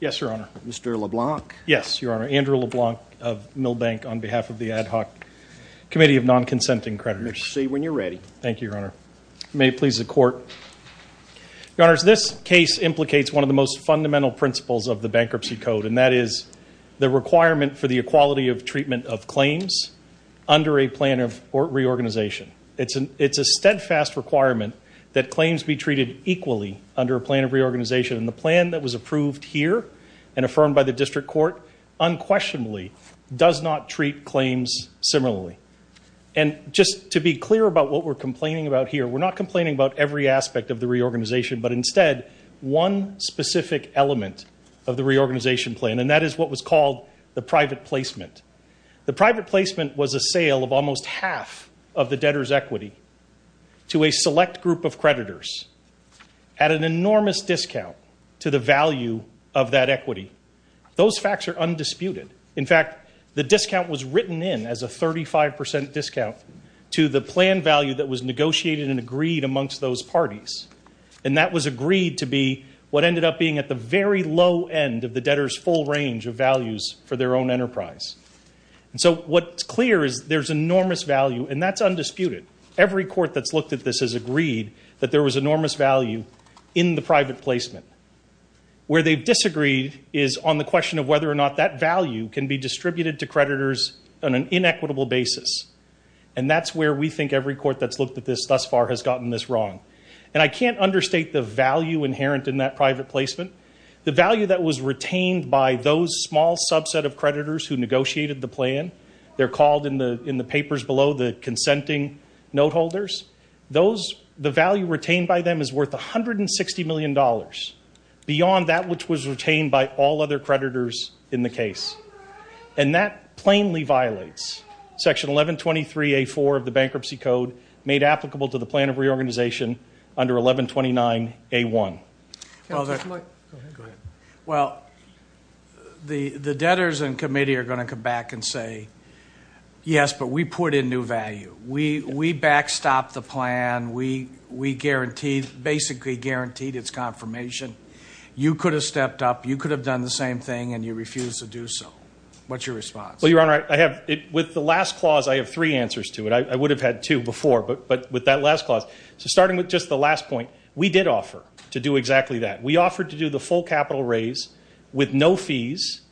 Yes, Your Honor. Mr. LeBlanc. Yes, Your Honor. Andrew LeBlanc of Milbank on behalf of the Ad Hoc Committee of Non-Consenting Creditors. You may proceed when you are ready. Thank you, Your Honor. May it please the Court. Your Honors, this case implicates one of the most fundamental principles of the Bankruptcy Code, and that is the requirement for the equality of treatment of claims under a plan of reorganization. It's a steadfast requirement that claims be treated equally under a plan of reorganization, and the plan that was approved here and affirmed by the District Court unquestionably does not treat claims similarly. And just to be clear about what we're complaining about here, we're not complaining about every aspect of the reorganization, but instead one specific element of the reorganization plan, and that is what was called the private placement. The private placement was a sale of almost half of the debtor's equity to a select group of creditors at an enormous discount to the value of that equity. Those facts are undisputed. In fact, the discount was written in as a 35% discount to the plan value that was negotiated and agreed amongst those parties, and that was agreed to be what ended up being at the very low end of the debtor's full range of values for their own enterprise. And so what's clear is there's enormous value, and that's undisputed. Every court that's looked at this has agreed that there was enormous value in the private placement. Where they've disagreed is on the question of whether or not that value can be distributed to creditors on an inequitable basis, and that's where we think every court that's looked at this thus far has gotten this wrong. And I can't understate the value inherent in that private placement, the value that was retained by those small subset of creditors who negotiated the plan. They're called in the papers below the consenting note holders. The value retained by them is worth $160 million, beyond that which was retained by all other creditors in the case. And that plainly violates section 1123A4 of the Bankruptcy Code made applicable to the plan of reorganization under 1129A1. Well, the debtors and committee are going to come back and say, yes, but we put in new value. We backstopped the plan. We basically guaranteed its confirmation. You could have stepped up. You could have done the same thing, and you refused to do so. What's your response? Well, Your Honor, with the last clause, I have three answers to it. I would have had two before, but with that last clause, starting with just the last point, we did offer to do exactly that. We offered to do the full capital raise with no fees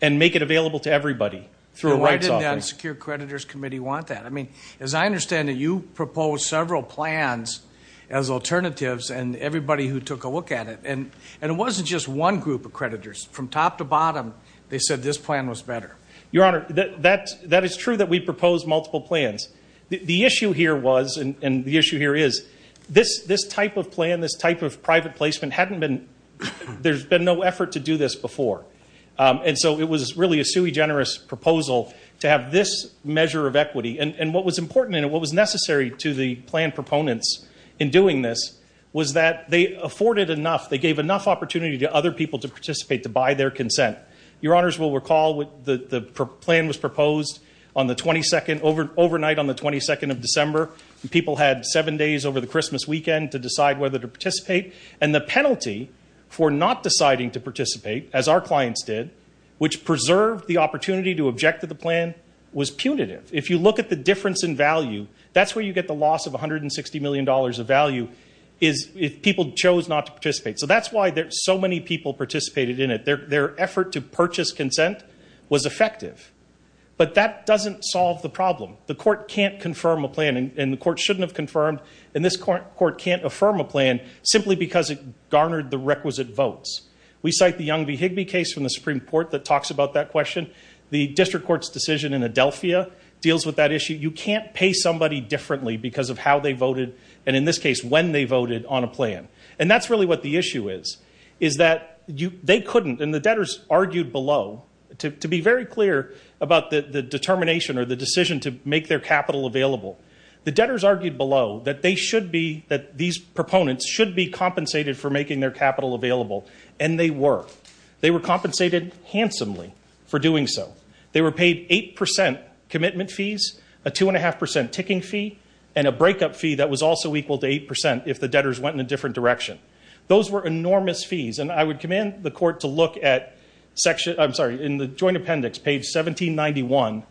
and make it available to everybody through a rights offering. And why didn't that secure creditors committee want that? I mean, as I understand it, you proposed several plans as alternatives, and everybody who took a look at it, and it wasn't just one group of creditors. From top to bottom, they said this plan was better. Your Honor, that is true that we proposed multiple plans. The issue here was, and the issue here is, this type of plan, this type of private placement hadn't been ‑‑ there's been no effort to do this before. And so it was really a sui generis proposal to have this measure of equity. And what was important and what was necessary to the plan proponents in doing this was that they afforded enough, they gave enough opportunity to other people to participate, to buy their consent. Your Honors will recall the plan was proposed on the 22nd, overnight on the 22nd of December. People had seven days over the Christmas weekend to decide whether to participate. And the penalty for not deciding to participate, as our clients did, which preserved the opportunity to object to the plan, was punitive. If you look at the difference in value, that's where you get the loss of $160 million of value is if people chose not to participate. So that's why so many people participated in it. Their effort to purchase consent was effective. But that doesn't solve the problem. The court can't confirm a plan, and the court shouldn't have confirmed, and this court can't affirm a plan simply because it garnered the requisite votes. We cite the Young v. Higbee case from the Supreme Court that talks about that question. The district court's decision in Adelphia deals with that issue. You can't pay somebody differently because of how they voted and, in this case, when they voted on a plan. And that's really what the issue is, is that they couldn't, and the debtors argued below, to be very clear about the determination or the decision to make their capital available, the debtors argued below that they should be, that these proponents should be compensated for making their capital available, and they were. They were compensated handsomely for doing so. They were paid 8% commitment fees, a 2.5% ticking fee, and a breakup fee that was also equal to 8% if the debtors went in a different direction. Those were enormous fees, and I would command the court to look at section, I'm sorry, in the joint appendix, page 1791,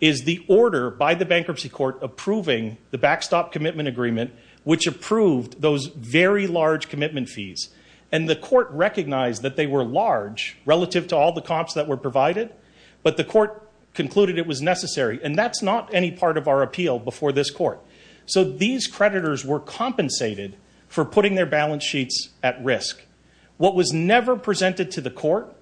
is the order by the bankruptcy court approving the backstop commitment agreement, which approved those very large commitment fees, and the court recognized that they were large relative to all the comps that were provided, but the court concluded it was necessary, and that's not any part of our appeal before this court. So these creditors were compensated for putting their balance sheets at risk. What was never presented to the court,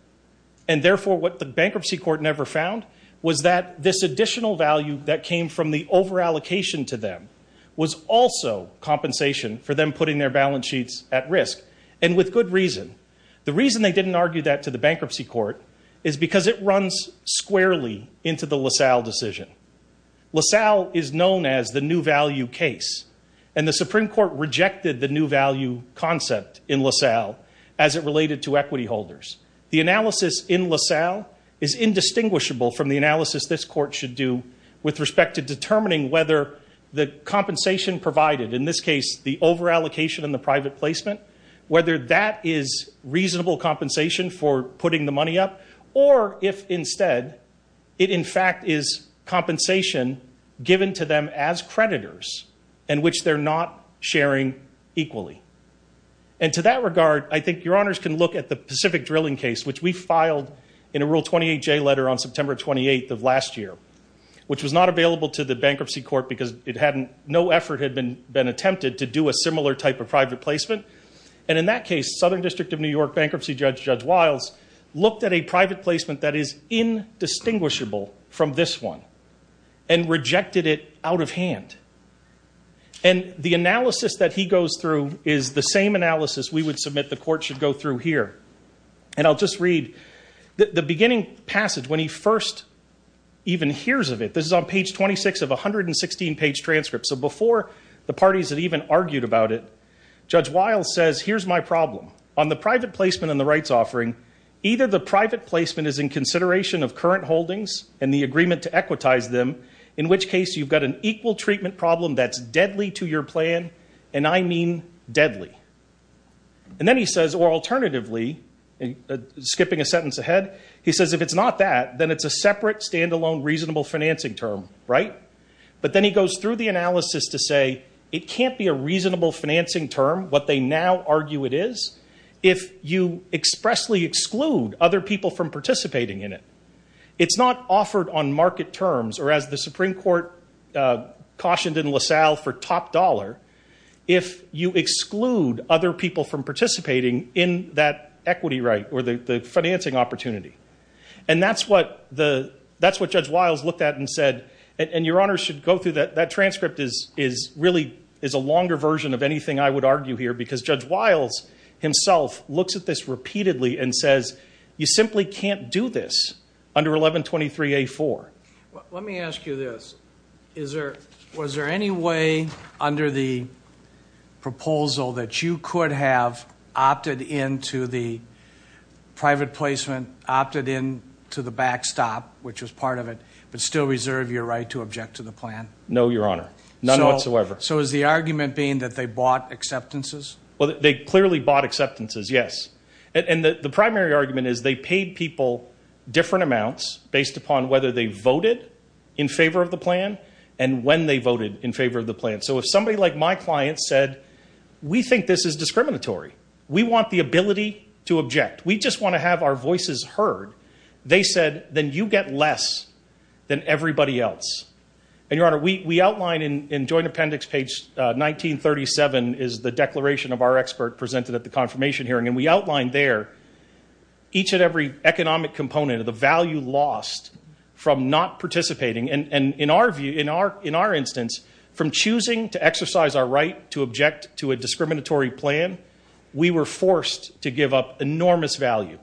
and therefore what the bankruptcy court never found, was that this additional value that came from the overallocation to them was also compensation for them putting their balance sheets at risk, and with good reason. The reason they didn't argue that to the bankruptcy court is because it runs squarely into the LaSalle decision. LaSalle is known as the new value case, and the Supreme Court rejected the new value concept in LaSalle as it related to equity holders. The analysis in LaSalle is indistinguishable from the analysis this court should do with respect to determining whether the compensation provided, in this case the overallocation and the private placement, whether that is reasonable compensation for putting the money up, or if instead it in fact is compensation given to them as creditors in which they're not sharing equally. And to that regard, I think your honors can look at the Pacific drilling case, which we filed in a Rule 28J letter on September 28th of last year, which was not available to the bankruptcy court because no effort had been attempted to do a similar type of private placement. And in that case, Southern District of New York bankruptcy judge Judge Wiles looked at a private placement that is indistinguishable from this one and rejected it out of hand. And the analysis that he goes through is the same analysis we would submit the court should go through here. And I'll just read the beginning passage when he first even hears of it. This is on page 26 of a 116-page transcript. So before the parties had even argued about it, Judge Wiles says, here's my problem. On the private placement and the rights offering, either the private placement is in consideration of current holdings and the agreement to equitize them, in which case you've got an equal treatment problem that's deadly to your plan, and I mean deadly. And then he says, or alternatively, skipping a sentence ahead, he says if it's not that, then it's a separate, stand-alone, reasonable financing term, right? But then he goes through the analysis to say it can't be a reasonable financing term, what they now argue it is, if you expressly exclude other people from participating in it. It's not offered on market terms, or as the Supreme Court cautioned in LaSalle, for top dollar, if you exclude other people from participating in that equity right or the financing opportunity. And that's what Judge Wiles looked at and said, and your Honor should go through that. That transcript is really a longer version of anything I would argue here, because Judge Wiles himself looks at this repeatedly and says, you simply can't do this under 1123-A-4. Let me ask you this. Was there any way under the proposal that you could have opted in to the private placement, opted in to the backstop, which was part of it, but still reserve your right to object to the plan? No, Your Honor. None whatsoever. So is the argument being that they bought acceptances? Well, they clearly bought acceptances, yes. And the primary argument is they paid people different amounts based upon whether they voted in favor of the plan and when they voted in favor of the plan. So if somebody like my client said, we think this is discriminatory, we want the ability to object, we just want to have our voices heard, they said, then you get less than everybody else. And, Your Honor, we outline in joint appendix page 1937 is the declaration of our expert presented at the confirmation hearing, and we outlined there each and every economic component of the value lost from not participating. And in our view, in our instance, from choosing to exercise our right to object to a discriminatory plan, we were forced to give up enormous value.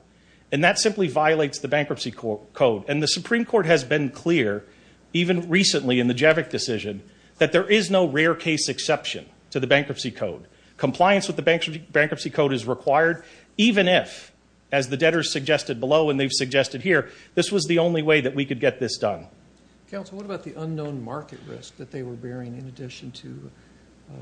And that simply violates the Bankruptcy Code. And the Supreme Court has been clear, even recently in the Jevick decision, that there is no rare case exception to the Bankruptcy Code. Compliance with the Bankruptcy Code is required, even if, as the debtors suggested below and they've suggested here, this was the only way that we could get this done. Counsel, what about the unknown market risk that they were bearing in addition to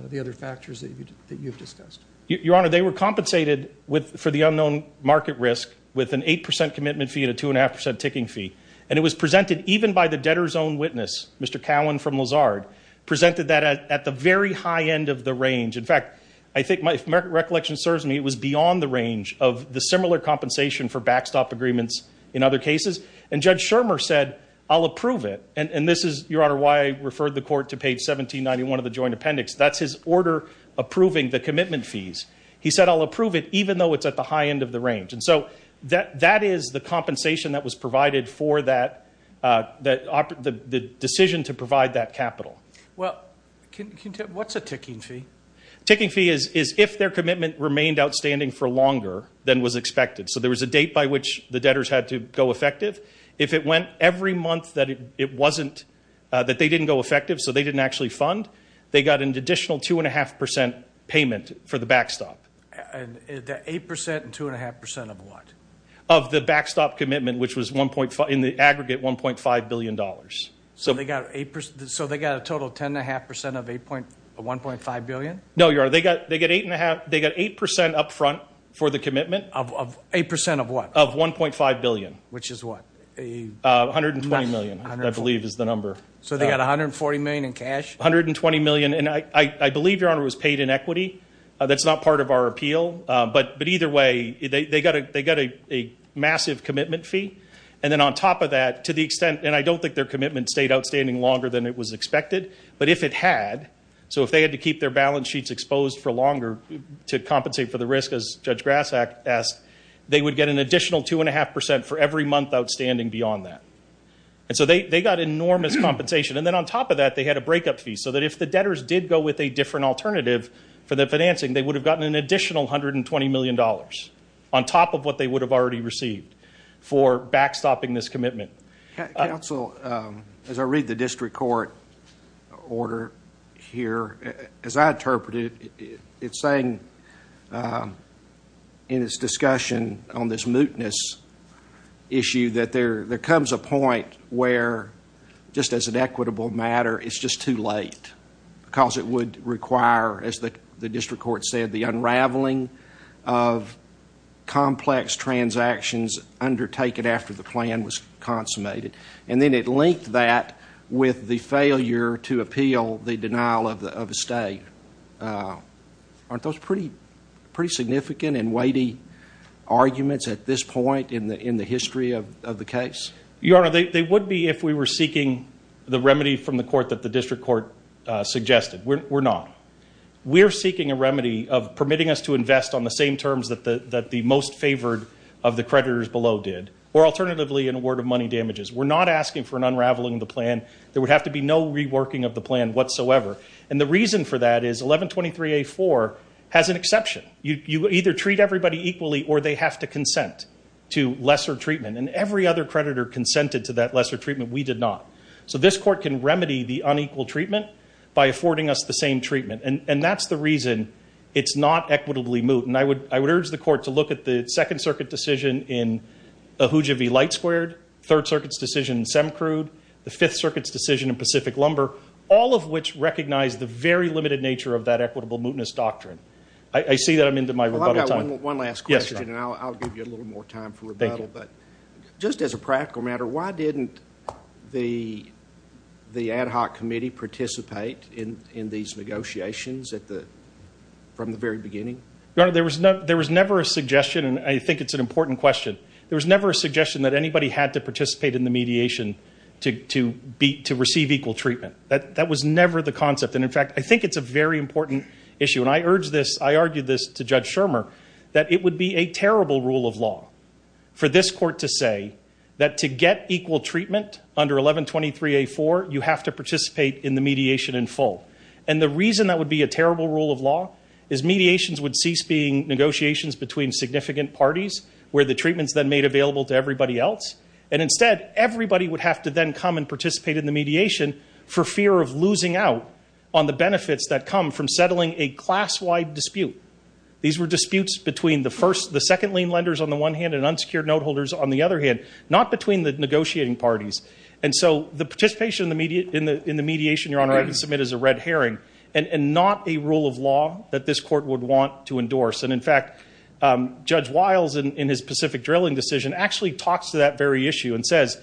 the other factors that you've discussed? Your Honor, they were compensated for the unknown market risk with an 8% commitment fee and a 2.5% ticking fee. And it was presented even by the debtor's own witness, Mr. Cowan from Lazard, presented that at the very high end of the range. In fact, if my recollection serves me, it was beyond the range of the similar compensation for backstop agreements in other cases. And Judge Shermer said, I'll approve it. And this is, Your Honor, why I referred the Court to page 1791 of the Joint Appendix. That's his order approving the commitment fees. He said, I'll approve it even though it's at the high end of the range. And so that is the compensation that was provided for the decision to provide that capital. Well, what's a ticking fee? Ticking fee is if their commitment remained outstanding for longer than was expected. So there was a date by which the debtors had to go effective. If it went every month that they didn't go effective, so they didn't actually fund, they got an additional 2.5% payment for the backstop. The 8% and 2.5% of what? Of the backstop commitment, which was in the aggregate $1.5 billion. So they got a total 10.5% of $1.5 billion? No, Your Honor. They got 8% up front for the commitment. Of 8% of what? Of $1.5 billion. Which is what? $120 million, I believe is the number. So they got $140 million in cash? $120 million. And I believe, Your Honor, it was paid in equity. That's not part of our appeal. But either way, they got a massive commitment fee. And then on top of that, to the extent, and I don't think their commitment stayed outstanding longer than it was expected, but if it had, so if they had to keep their balance sheets exposed for longer to compensate for the risk, as Judge Grassak asked, they would get an additional 2.5% for every month outstanding beyond that. And so they got enormous compensation. And then on top of that, they had a breakup fee, so that if the debtors did go with a different alternative for their financing, they would have gotten an additional $120 million, on top of what they would have already received, for backstopping this commitment. Counsel, as I read the district court order here, as I interpret it, it's saying in its discussion on this mootness issue that there comes a point where, just as an equitable matter, it's just too late because it would require, as the district court said, the unraveling of complex transactions undertaken after the plan was consummated. And then it linked that with the failure to appeal the denial of a stay. Aren't those pretty significant and weighty arguments at this point in the history of the case? Your Honor, they would be if we were seeking the remedy from the court that the district court suggested. We're not. We're seeking a remedy of permitting us to invest on the same terms that the most favored of the creditors below did, or alternatively an award of money damages. We're not asking for an unraveling of the plan. There would have to be no reworking of the plan whatsoever. And the reason for that is 1123A4 has an exception. You either treat everybody equally or they have to consent to lesser treatment. And every other creditor consented to that lesser treatment. We did not. So this court can remedy the unequal treatment by affording us the same treatment, and that's the reason it's not equitably moot. And I would urge the court to look at the Second Circuit decision in Ahuja v. Light Squared, Third Circuit's decision in Semkrude, the Fifth Circuit's decision in Pacific Lumber, all of which recognize the very limited nature of that equitable mootness doctrine. I see that I'm into my rebuttal time. Well, I've got one last question, and I'll give you a little more time for rebuttal. Thank you. But just as a practical matter, why didn't the ad hoc committee participate in these negotiations from the very beginning? Your Honor, there was never a suggestion, and I think it's an important question. There was never a suggestion that anybody had to participate in the mediation to receive equal treatment. That was never the concept. And, in fact, I think it's a very important issue. And I urge this, I argue this to Judge Shermer, that it would be a terrible rule of law for this court to say that to get equal treatment under 1123A4, you have to participate in the mediation in full. And the reason that would be a terrible rule of law is mediations would cease being negotiations between significant parties, where the treatment's then made available to everybody else. And, instead, everybody would have to then come and participate in the mediation for fear of losing out on the benefits that come from settling a class-wide dispute. These were disputes between the second lien lenders on the one hand and unsecured note holders on the other hand, not between the negotiating parties. And so the participation in the mediation, Your Honor, I can submit as a red herring and not a rule of law that this court would want to endorse. And, in fact, Judge Wiles, in his Pacific drilling decision, actually talks to that very issue and says,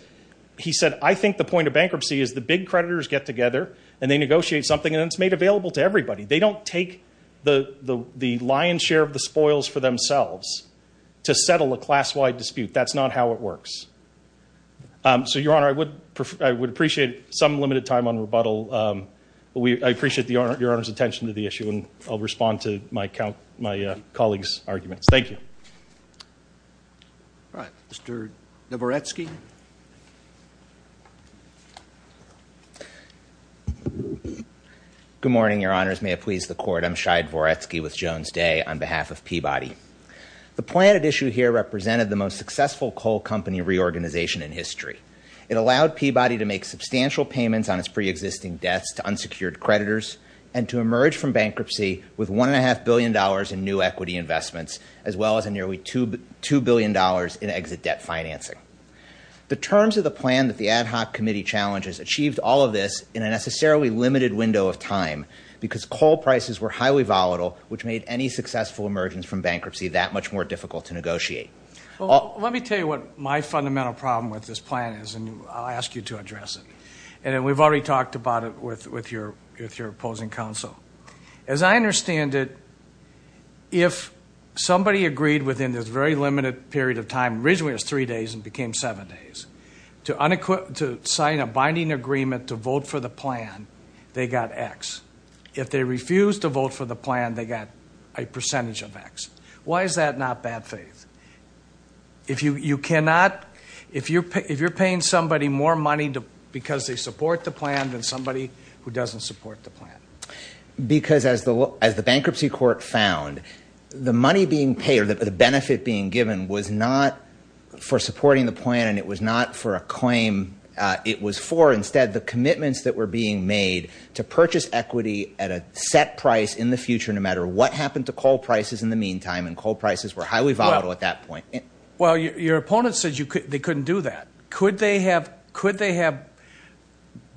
he said, I think the point of bankruptcy is the big creditors get together and they negotiate something, and it's made available to everybody. They don't take the lion's share of the spoils for themselves to settle a class-wide dispute. That's not how it works. So, Your Honor, I would appreciate some limited time on rebuttal. I appreciate Your Honor's attention to the issue, and I'll respond to my colleague's arguments. Thank you. All right. Mr. Dvoretsky. Good morning, Your Honors. May it please the Court, I'm Shai Dvoretsky with Jones Day on behalf of Peabody. The plan at issue here represented the most successful coal company reorganization in history. It allowed Peabody to make substantial payments on its preexisting debts to unsecured creditors and to emerge from bankruptcy with $1.5 billion in new equity investments, as well as nearly $2 billion in exit debt financing. The terms of the plan that the ad hoc committee challenges achieved all of this in a necessarily limited window of time because coal prices were highly volatile, which made any successful emergence from bankruptcy that much more difficult to negotiate. Well, let me tell you what my fundamental problem with this plan is, and I'll ask you to address it. And we've already talked about it with your opposing counsel. As I understand it, if somebody agreed within this very limited period of time, originally it was three days and became seven days, to sign a binding agreement to vote for the plan, they got X. If they refused to vote for the plan, they got a percentage of X. Why is that not bad faith? If you're paying somebody more money because they support the plan than somebody who doesn't support the plan. Because as the bankruptcy court found, the money being paid or the benefit being given was not for supporting the plan and it was not for a claim it was for. Instead, the commitments that were being made to purchase equity at a set price in the future, no matter what happened to coal prices in the meantime, and coal prices were highly volatile at that point. Well, your opponent said they couldn't do that. Could they have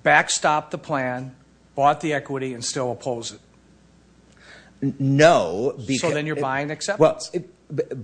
backstopped the plan, bought the equity, and still oppose it? No. So then you're buying acceptance.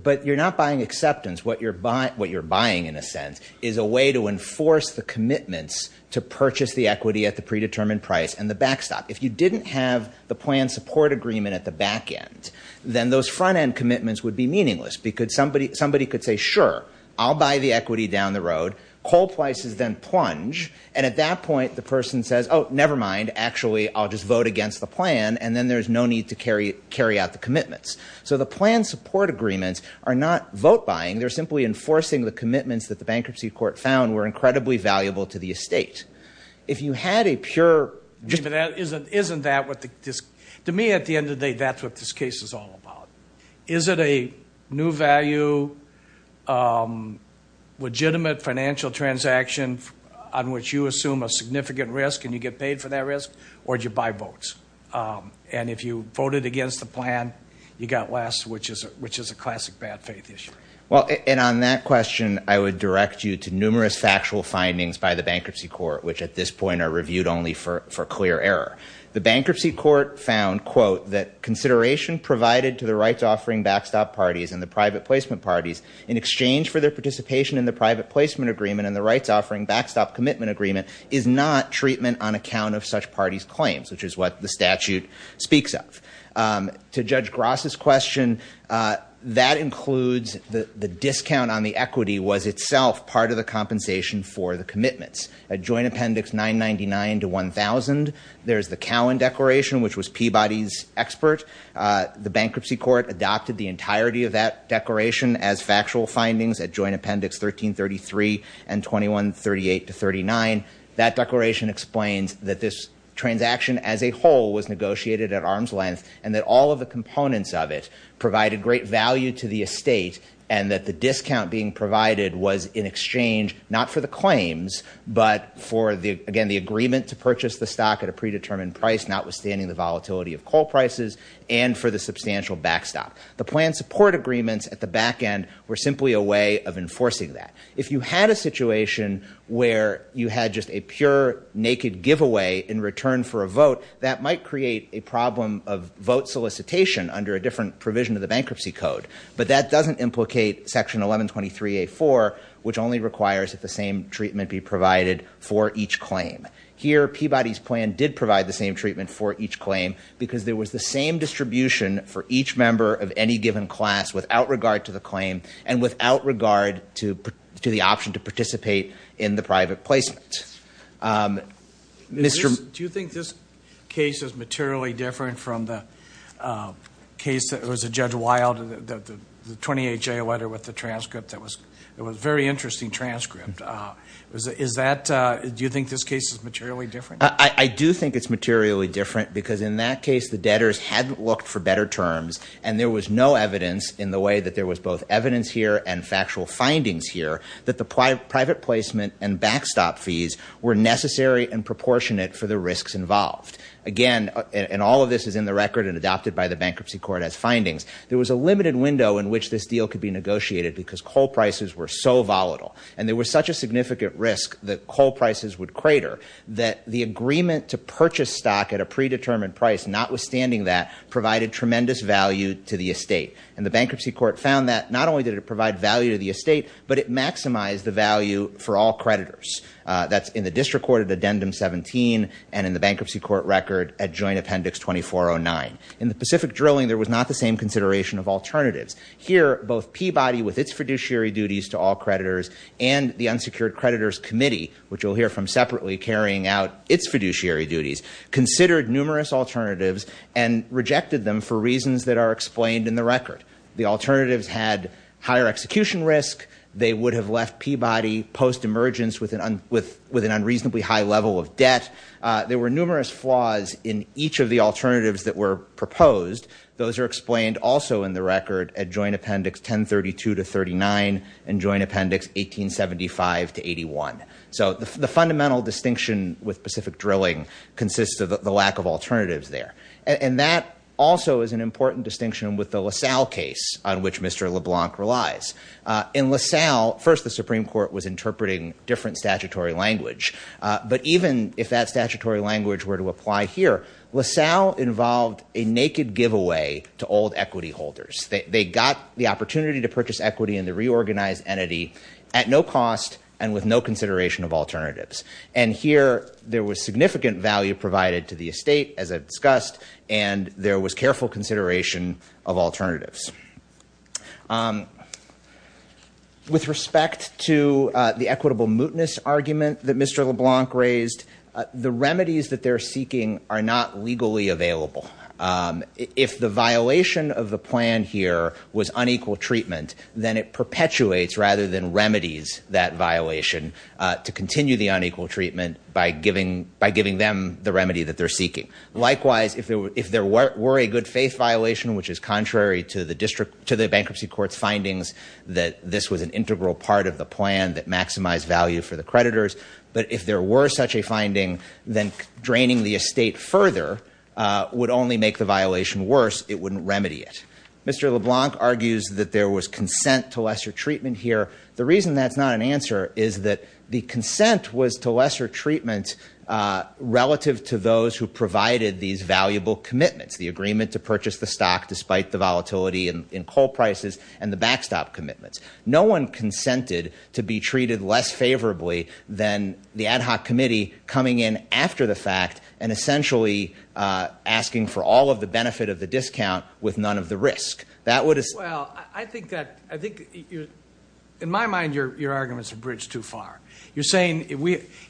But you're not buying acceptance. What you're buying, in a sense, is a way to enforce the commitments to purchase the equity at the predetermined price and the backstop. If you didn't have the plan support agreement at the back end, then those front end commitments would be meaningless. Because somebody could say, sure, I'll buy the equity down the road. Coal prices then plunge. And at that point, the person says, oh, never mind. Actually, I'll just vote against the plan. And then there's no need to carry out the commitments. So the plan support agreements are not vote buying. They're simply enforcing the commitments that the bankruptcy court found were incredibly valuable to the estate. If you had a pure ---- Isn't that what the ---- To me, at the end of the day, that's what this case is all about. Is it a new value, legitimate financial transaction on which you assume a significant risk and you get paid for that risk? Or do you buy votes? And if you voted against the plan, you got less, which is a classic bad faith issue. Well, and on that question, I would direct you to numerous factual findings by the bankruptcy court, which at this point are reviewed only for clear error. The bankruptcy court found, quote, that consideration provided to the rights-offering backstop parties and the private placement parties in exchange for their participation in the private placement agreement and the rights-offering backstop commitment agreement is not treatment on account of such parties' claims, which is what the statute speaks of. To Judge Gross's question, that includes the discount on the equity was itself part of the compensation for the commitments. At Joint Appendix 999 to 1000, there's the Cowan Declaration, which was Peabody's expert. The bankruptcy court adopted the entirety of that declaration as factual findings at Joint Appendix 1333 and 2138 to 39. That declaration explains that this transaction as a whole was negotiated at arm's length and that all of the components of it provided great value to the estate and that the discount being provided was in exchange not for the claims, but for, again, the agreement to purchase the stock at a predetermined price, notwithstanding the volatility of coal prices, and for the substantial backstop. The plan support agreements at the back end were simply a way of enforcing that. If you had a situation where you had just a pure, naked giveaway in return for a vote, that might create a problem of vote solicitation under a different provision of the bankruptcy code, but that doesn't implicate Section 1123A.4, which only requires that the same treatment be provided for each claim. Here, Peabody's plan did provide the same treatment for each claim because there was the same distribution for each member of any given class without regard to the claim and without regard to the option to participate in the private placement. Do you think this case is materially different from the case that was a Judge Wilde, the 28-J letter with the transcript that was a very interesting transcript? Do you think this case is materially different? I do think it's materially different because in that case the debtors had looked for better terms and there was no evidence in the way that there was both evidence here and factual findings here that the private placement and backstop fees were necessary and proportionate for the risks involved. Again, and all of this is in the record and adopted by the bankruptcy court as findings, there was a limited window in which this deal could be negotiated because coal prices were so volatile and there was such a significant risk that coal prices would crater that the agreement to purchase stock at a predetermined price, notwithstanding that, provided tremendous value to the estate. And the bankruptcy court found that not only did it provide value to the estate, but it maximized the value for all creditors. That's in the district court at Addendum 17 and in the bankruptcy court record at Joint Appendix 2409. In the Pacific drilling, there was not the same consideration of alternatives. Here, both Peabody with its fiduciary duties to all creditors and the unsecured creditors committee, which you'll hear from separately carrying out its fiduciary duties, considered numerous alternatives and rejected them for reasons that are explained in the record. The alternatives had higher execution risk. They would have left Peabody post-emergence with an unreasonably high level of debt. There were numerous flaws in each of the alternatives that were proposed. Those are explained also in the record at Joint Appendix 1032-39 and Joint Appendix 1875-81. So the fundamental distinction with Pacific drilling consists of the lack of alternatives there. And that also is an important distinction with the LaSalle case on which Mr. LeBlanc relies. In LaSalle, first the Supreme Court was interpreting different statutory language. But even if that statutory language were to apply here, LaSalle involved a naked giveaway to old equity holders. They got the opportunity to purchase equity in the reorganized entity at no cost and with no consideration of alternatives. And here there was significant value provided to the estate, as I've discussed, and there was careful consideration of alternatives. With respect to the equitable mootness argument that Mr. LeBlanc raised, the remedies that they're seeking are not legally available. If the violation of the plan here was unequal treatment, then it perpetuates rather than remedies that violation to continue the unequal treatment by giving them the remedy that they're seeking. Likewise, if there were a good faith violation, which is contrary to the bankruptcy court's findings that this was an integral part of the plan that maximized value for the creditors, but if there were such a finding, then draining the estate further would only make the violation worse. It wouldn't remedy it. Mr. LeBlanc argues that there was consent to lesser treatment here. The reason that's not an answer is that the consent was to lesser treatment relative to those who provided these valuable commitments, the agreement to purchase the stock despite the volatility in coal prices and the backstop commitments. No one consented to be treated less favorably than the ad hoc committee coming in after the fact and essentially asking for all of the benefit of the discount with none of the risk. Well, I think that, in my mind, your arguments have bridged too far. You're saying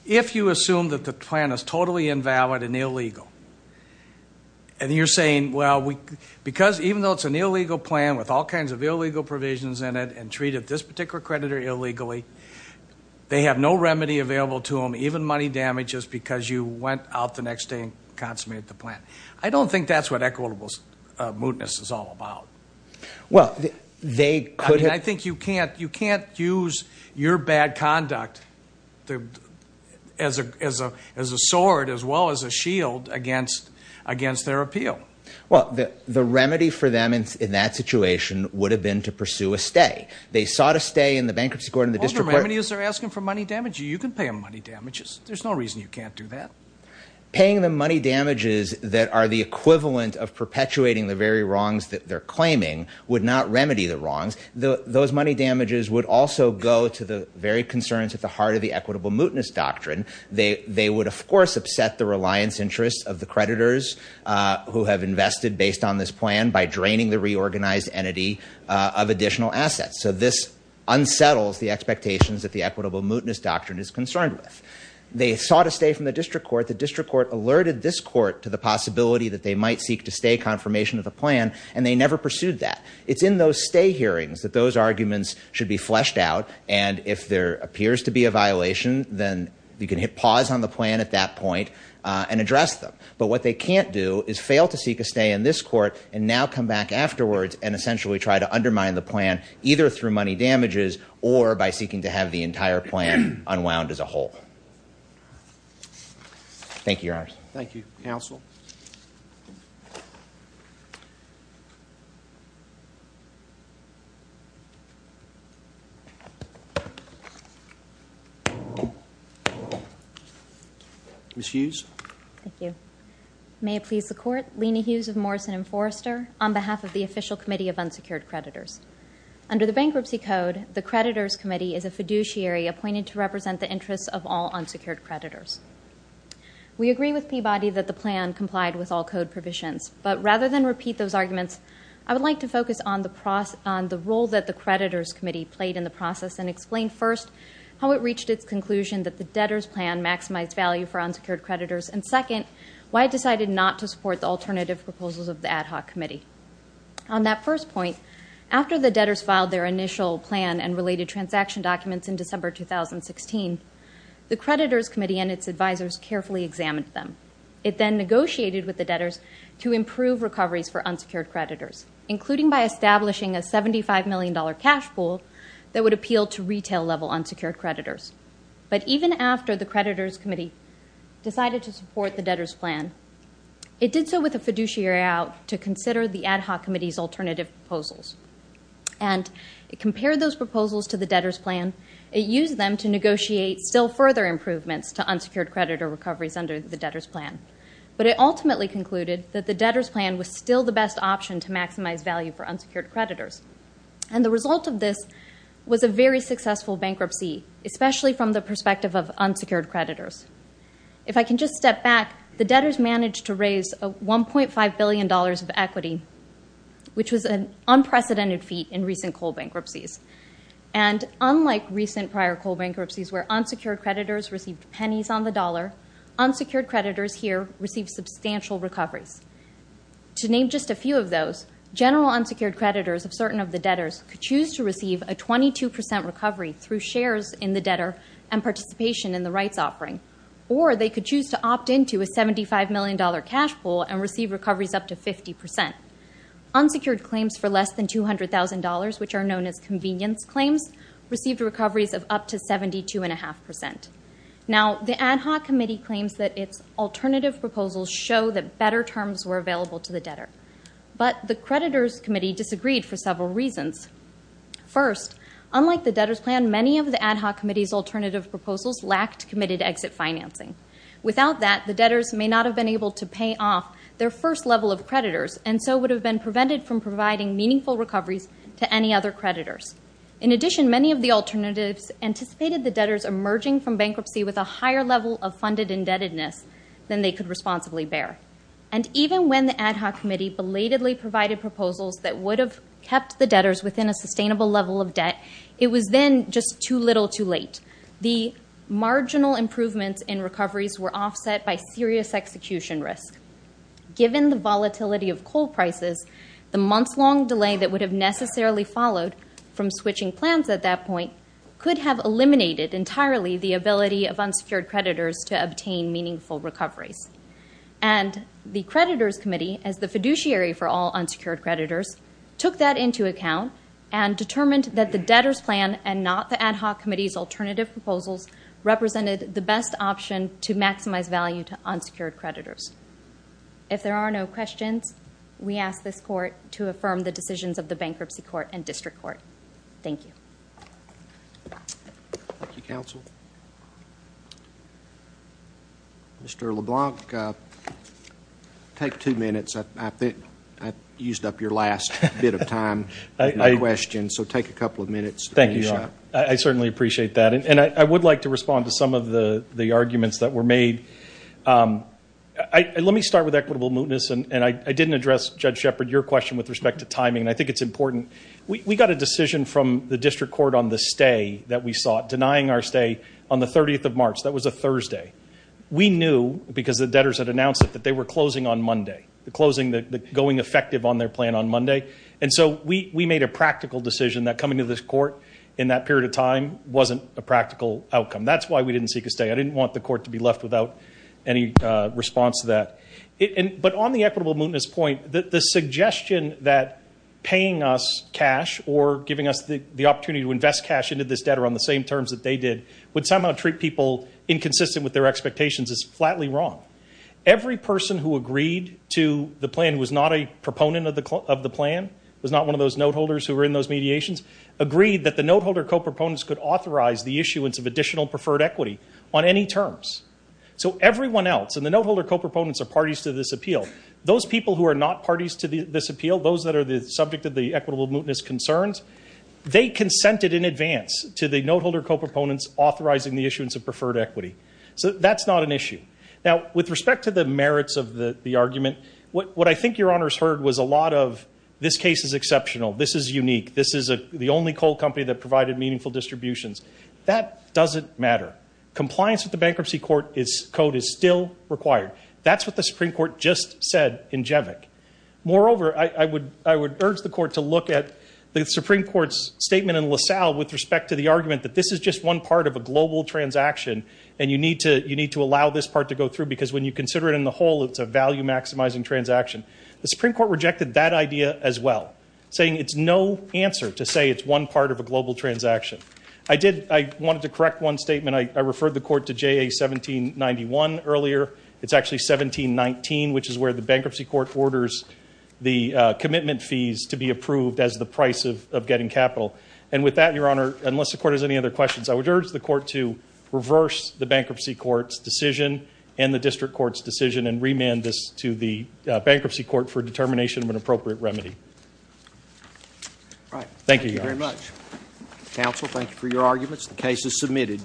if you assume that the plan is totally invalid and illegal, and you're saying, well, because even though it's an illegal plan with all kinds of illegal provisions in it and treated this particular creditor illegally, they have no remedy available to them, even money damages because you went out the next day and consummated the plan. I don't think that's what equitable mootness is all about. I mean, I think you can't use your bad conduct as a sword as well as a shield against their appeal. Well, the remedy for them in that situation would have been to pursue a stay. They sought a stay in the bankruptcy court and the district court. Well, the remedy is they're asking for money damages. You can pay them money damages. There's no reason you can't do that. Paying them money damages that are the equivalent of perpetuating the very wrongs that they're claiming would not remedy the wrongs. Those money damages would also go to the very concerns at the heart of the equitable mootness doctrine. They would, of course, upset the reliance interests of the creditors who have invested based on this plan by draining the reorganized entity of additional assets. So this unsettles the expectations that the equitable mootness doctrine is concerned with. They sought a stay from the district court. The district court alerted this court to the possibility that they might seek to stay confirmation of the plan. And they never pursued that. It's in those stay hearings that those arguments should be fleshed out. And if there appears to be a violation, then you can hit pause on the plan at that point and address them. But what they can't do is fail to seek a stay in this court and now come back afterwards and essentially try to undermine the plan either through money damages or by seeking to have the entire plan unwound as a whole. Thank you, Your Honors. Thank you, Counsel. Ms. Hughes. Thank you. May it please the Court. Lena Hughes of Morrison & Forrester on behalf of the Official Committee of Unsecured Creditors. Under the Bankruptcy Code, the Creditors Committee is a fiduciary appointed to represent the interests of all unsecured creditors. We agree with Peabody that the plan complied with all code provisions. But rather than repeat those arguments, I would like to focus on the role that the Creditors Committee played in the process and explain first how it reached its conclusion that the debtors' plan maximized value for unsecured creditors and second, why it decided not to support the alternative proposals of the Ad Hoc Committee. On that first point, after the debtors filed their initial plan and related transaction documents in December 2016, the Creditors Committee and its advisors carefully examined them. It then negotiated with the debtors to improve recoveries for unsecured creditors, including by establishing a $75 million cash pool that would appeal to retail-level unsecured creditors. But even after the Creditors Committee decided to support the debtors' plan, it did so with a fiduciary out to consider the Ad Hoc Committee's alternative proposals. And it compared those proposals to the debtors' plan. It used them to negotiate still further improvements to unsecured creditor recoveries under the debtors' plan. But it ultimately concluded that the debtors' plan was still the best option to maximize value for unsecured creditors. And the result of this was a very successful bankruptcy, especially from the perspective of unsecured creditors. If I can just step back, the debtors managed to raise $1.5 billion of equity, which was an unprecedented feat in recent coal bankruptcies. And unlike recent prior coal bankruptcies where unsecured creditors received pennies on the dollar, unsecured creditors here received substantial recoveries. To name just a few of those, general unsecured creditors of certain of the debtors could choose to receive a 22% recovery through shares in the debtor and participation in the rights offering. Or they could choose to opt into a $75 million cash pool and receive recoveries up to 50%. Unsecured claims for less than $200,000, which are known as convenience claims, received recoveries of up to 72.5%. Now, the ad hoc committee claims that its alternative proposals show that better terms were available to the debtor. But the creditors' committee disagreed for several reasons. First, unlike the debtors' plan, many of the ad hoc committee's alternative proposals lacked committed exit financing. Without that, the debtors may not have been able to pay off their first level of creditors, and so would have been prevented from providing meaningful recoveries to any other creditors. In addition, many of the alternatives anticipated the debtors emerging from bankruptcy with a higher level of funded indebtedness than they could responsibly bear. And even when the ad hoc committee belatedly provided proposals that would have kept the debtors within a sustainable level of debt, it was then just too little too late. The marginal improvements in recoveries were offset by serious execution risk. Given the volatility of coal prices, the months-long delay that would have necessarily followed from switching plans at that point could have eliminated entirely the ability of unsecured creditors to obtain meaningful recoveries. And the creditors' committee, as the fiduciary for all unsecured creditors, took that into account and determined that the debtors' plan and not the ad hoc committee's alternative proposals represented the best option to maximize value to unsecured creditors. If there are no questions, we ask this Court to affirm the decisions of the Bankruptcy Court and District Court. Thank you. Thank you, Counsel. Mr. LeBlanc, take two minutes. I used up your last bit of time with no questions, so take a couple of minutes. Thank you, Your Honor. I certainly appreciate that. And I would like to respond to some of the arguments that were made. Let me start with equitable mootness, and I didn't address, Judge Shepard, your question with respect to timing, and I think it's important. We got a decision from the District Court on the stay that we sought, denying our stay on the 30th of March. That was a Thursday. We knew, because the debtors had announced it, that they were closing on Monday, going effective on their plan on Monday. And so we made a practical decision that coming to this Court in that period of time wasn't a practical outcome. That's why we didn't seek a stay. I didn't want the Court to be left without any response to that. But on the equitable mootness point, the suggestion that paying us cash or giving us the opportunity to invest cash into this debtor on the same terms that they did would somehow treat people inconsistent with their expectations is flatly wrong. Every person who agreed to the plan, who was not a proponent of the plan, was not one of those noteholders who were in those mediations, agreed that the noteholder co-proponents could authorize the issuance of additional preferred equity on any terms. So everyone else, and the noteholder co-proponents are parties to this appeal. Those people who are not parties to this appeal, those that are the subject of the equitable mootness concerns, they consented in advance to the noteholder co-proponents authorizing the issuance of preferred equity. So that's not an issue. Now, with respect to the merits of the argument, what I think Your Honors heard was a lot of this case is exceptional, this is unique, this is the only coal company that provided meaningful distributions. That doesn't matter. Compliance with the Bankruptcy Code is still required. That's what the Supreme Court just said in Jevic. Moreover, I would urge the Court to look at the Supreme Court's statement in LaSalle with respect to the argument that this is just one part of a global transaction and you need to allow this part to go through because when you consider it in the whole, it's a value-maximizing transaction. The Supreme Court rejected that idea as well, saying it's no answer to say it's one part of a global transaction. I wanted to correct one statement. I referred the Court to JA 1791 earlier. It's actually 1719, which is where the Bankruptcy Court orders the commitment fees to be approved as the price of getting capital. With that, Your Honor, unless the Court has any other questions, I would urge the Court to reverse the Bankruptcy Court's decision and the District Court's decision and remand this to the Bankruptcy Court for determination of an appropriate remedy. Thank you, Your Honors. Thank you very much. Counsel, thank you for your arguments. The case is submitted.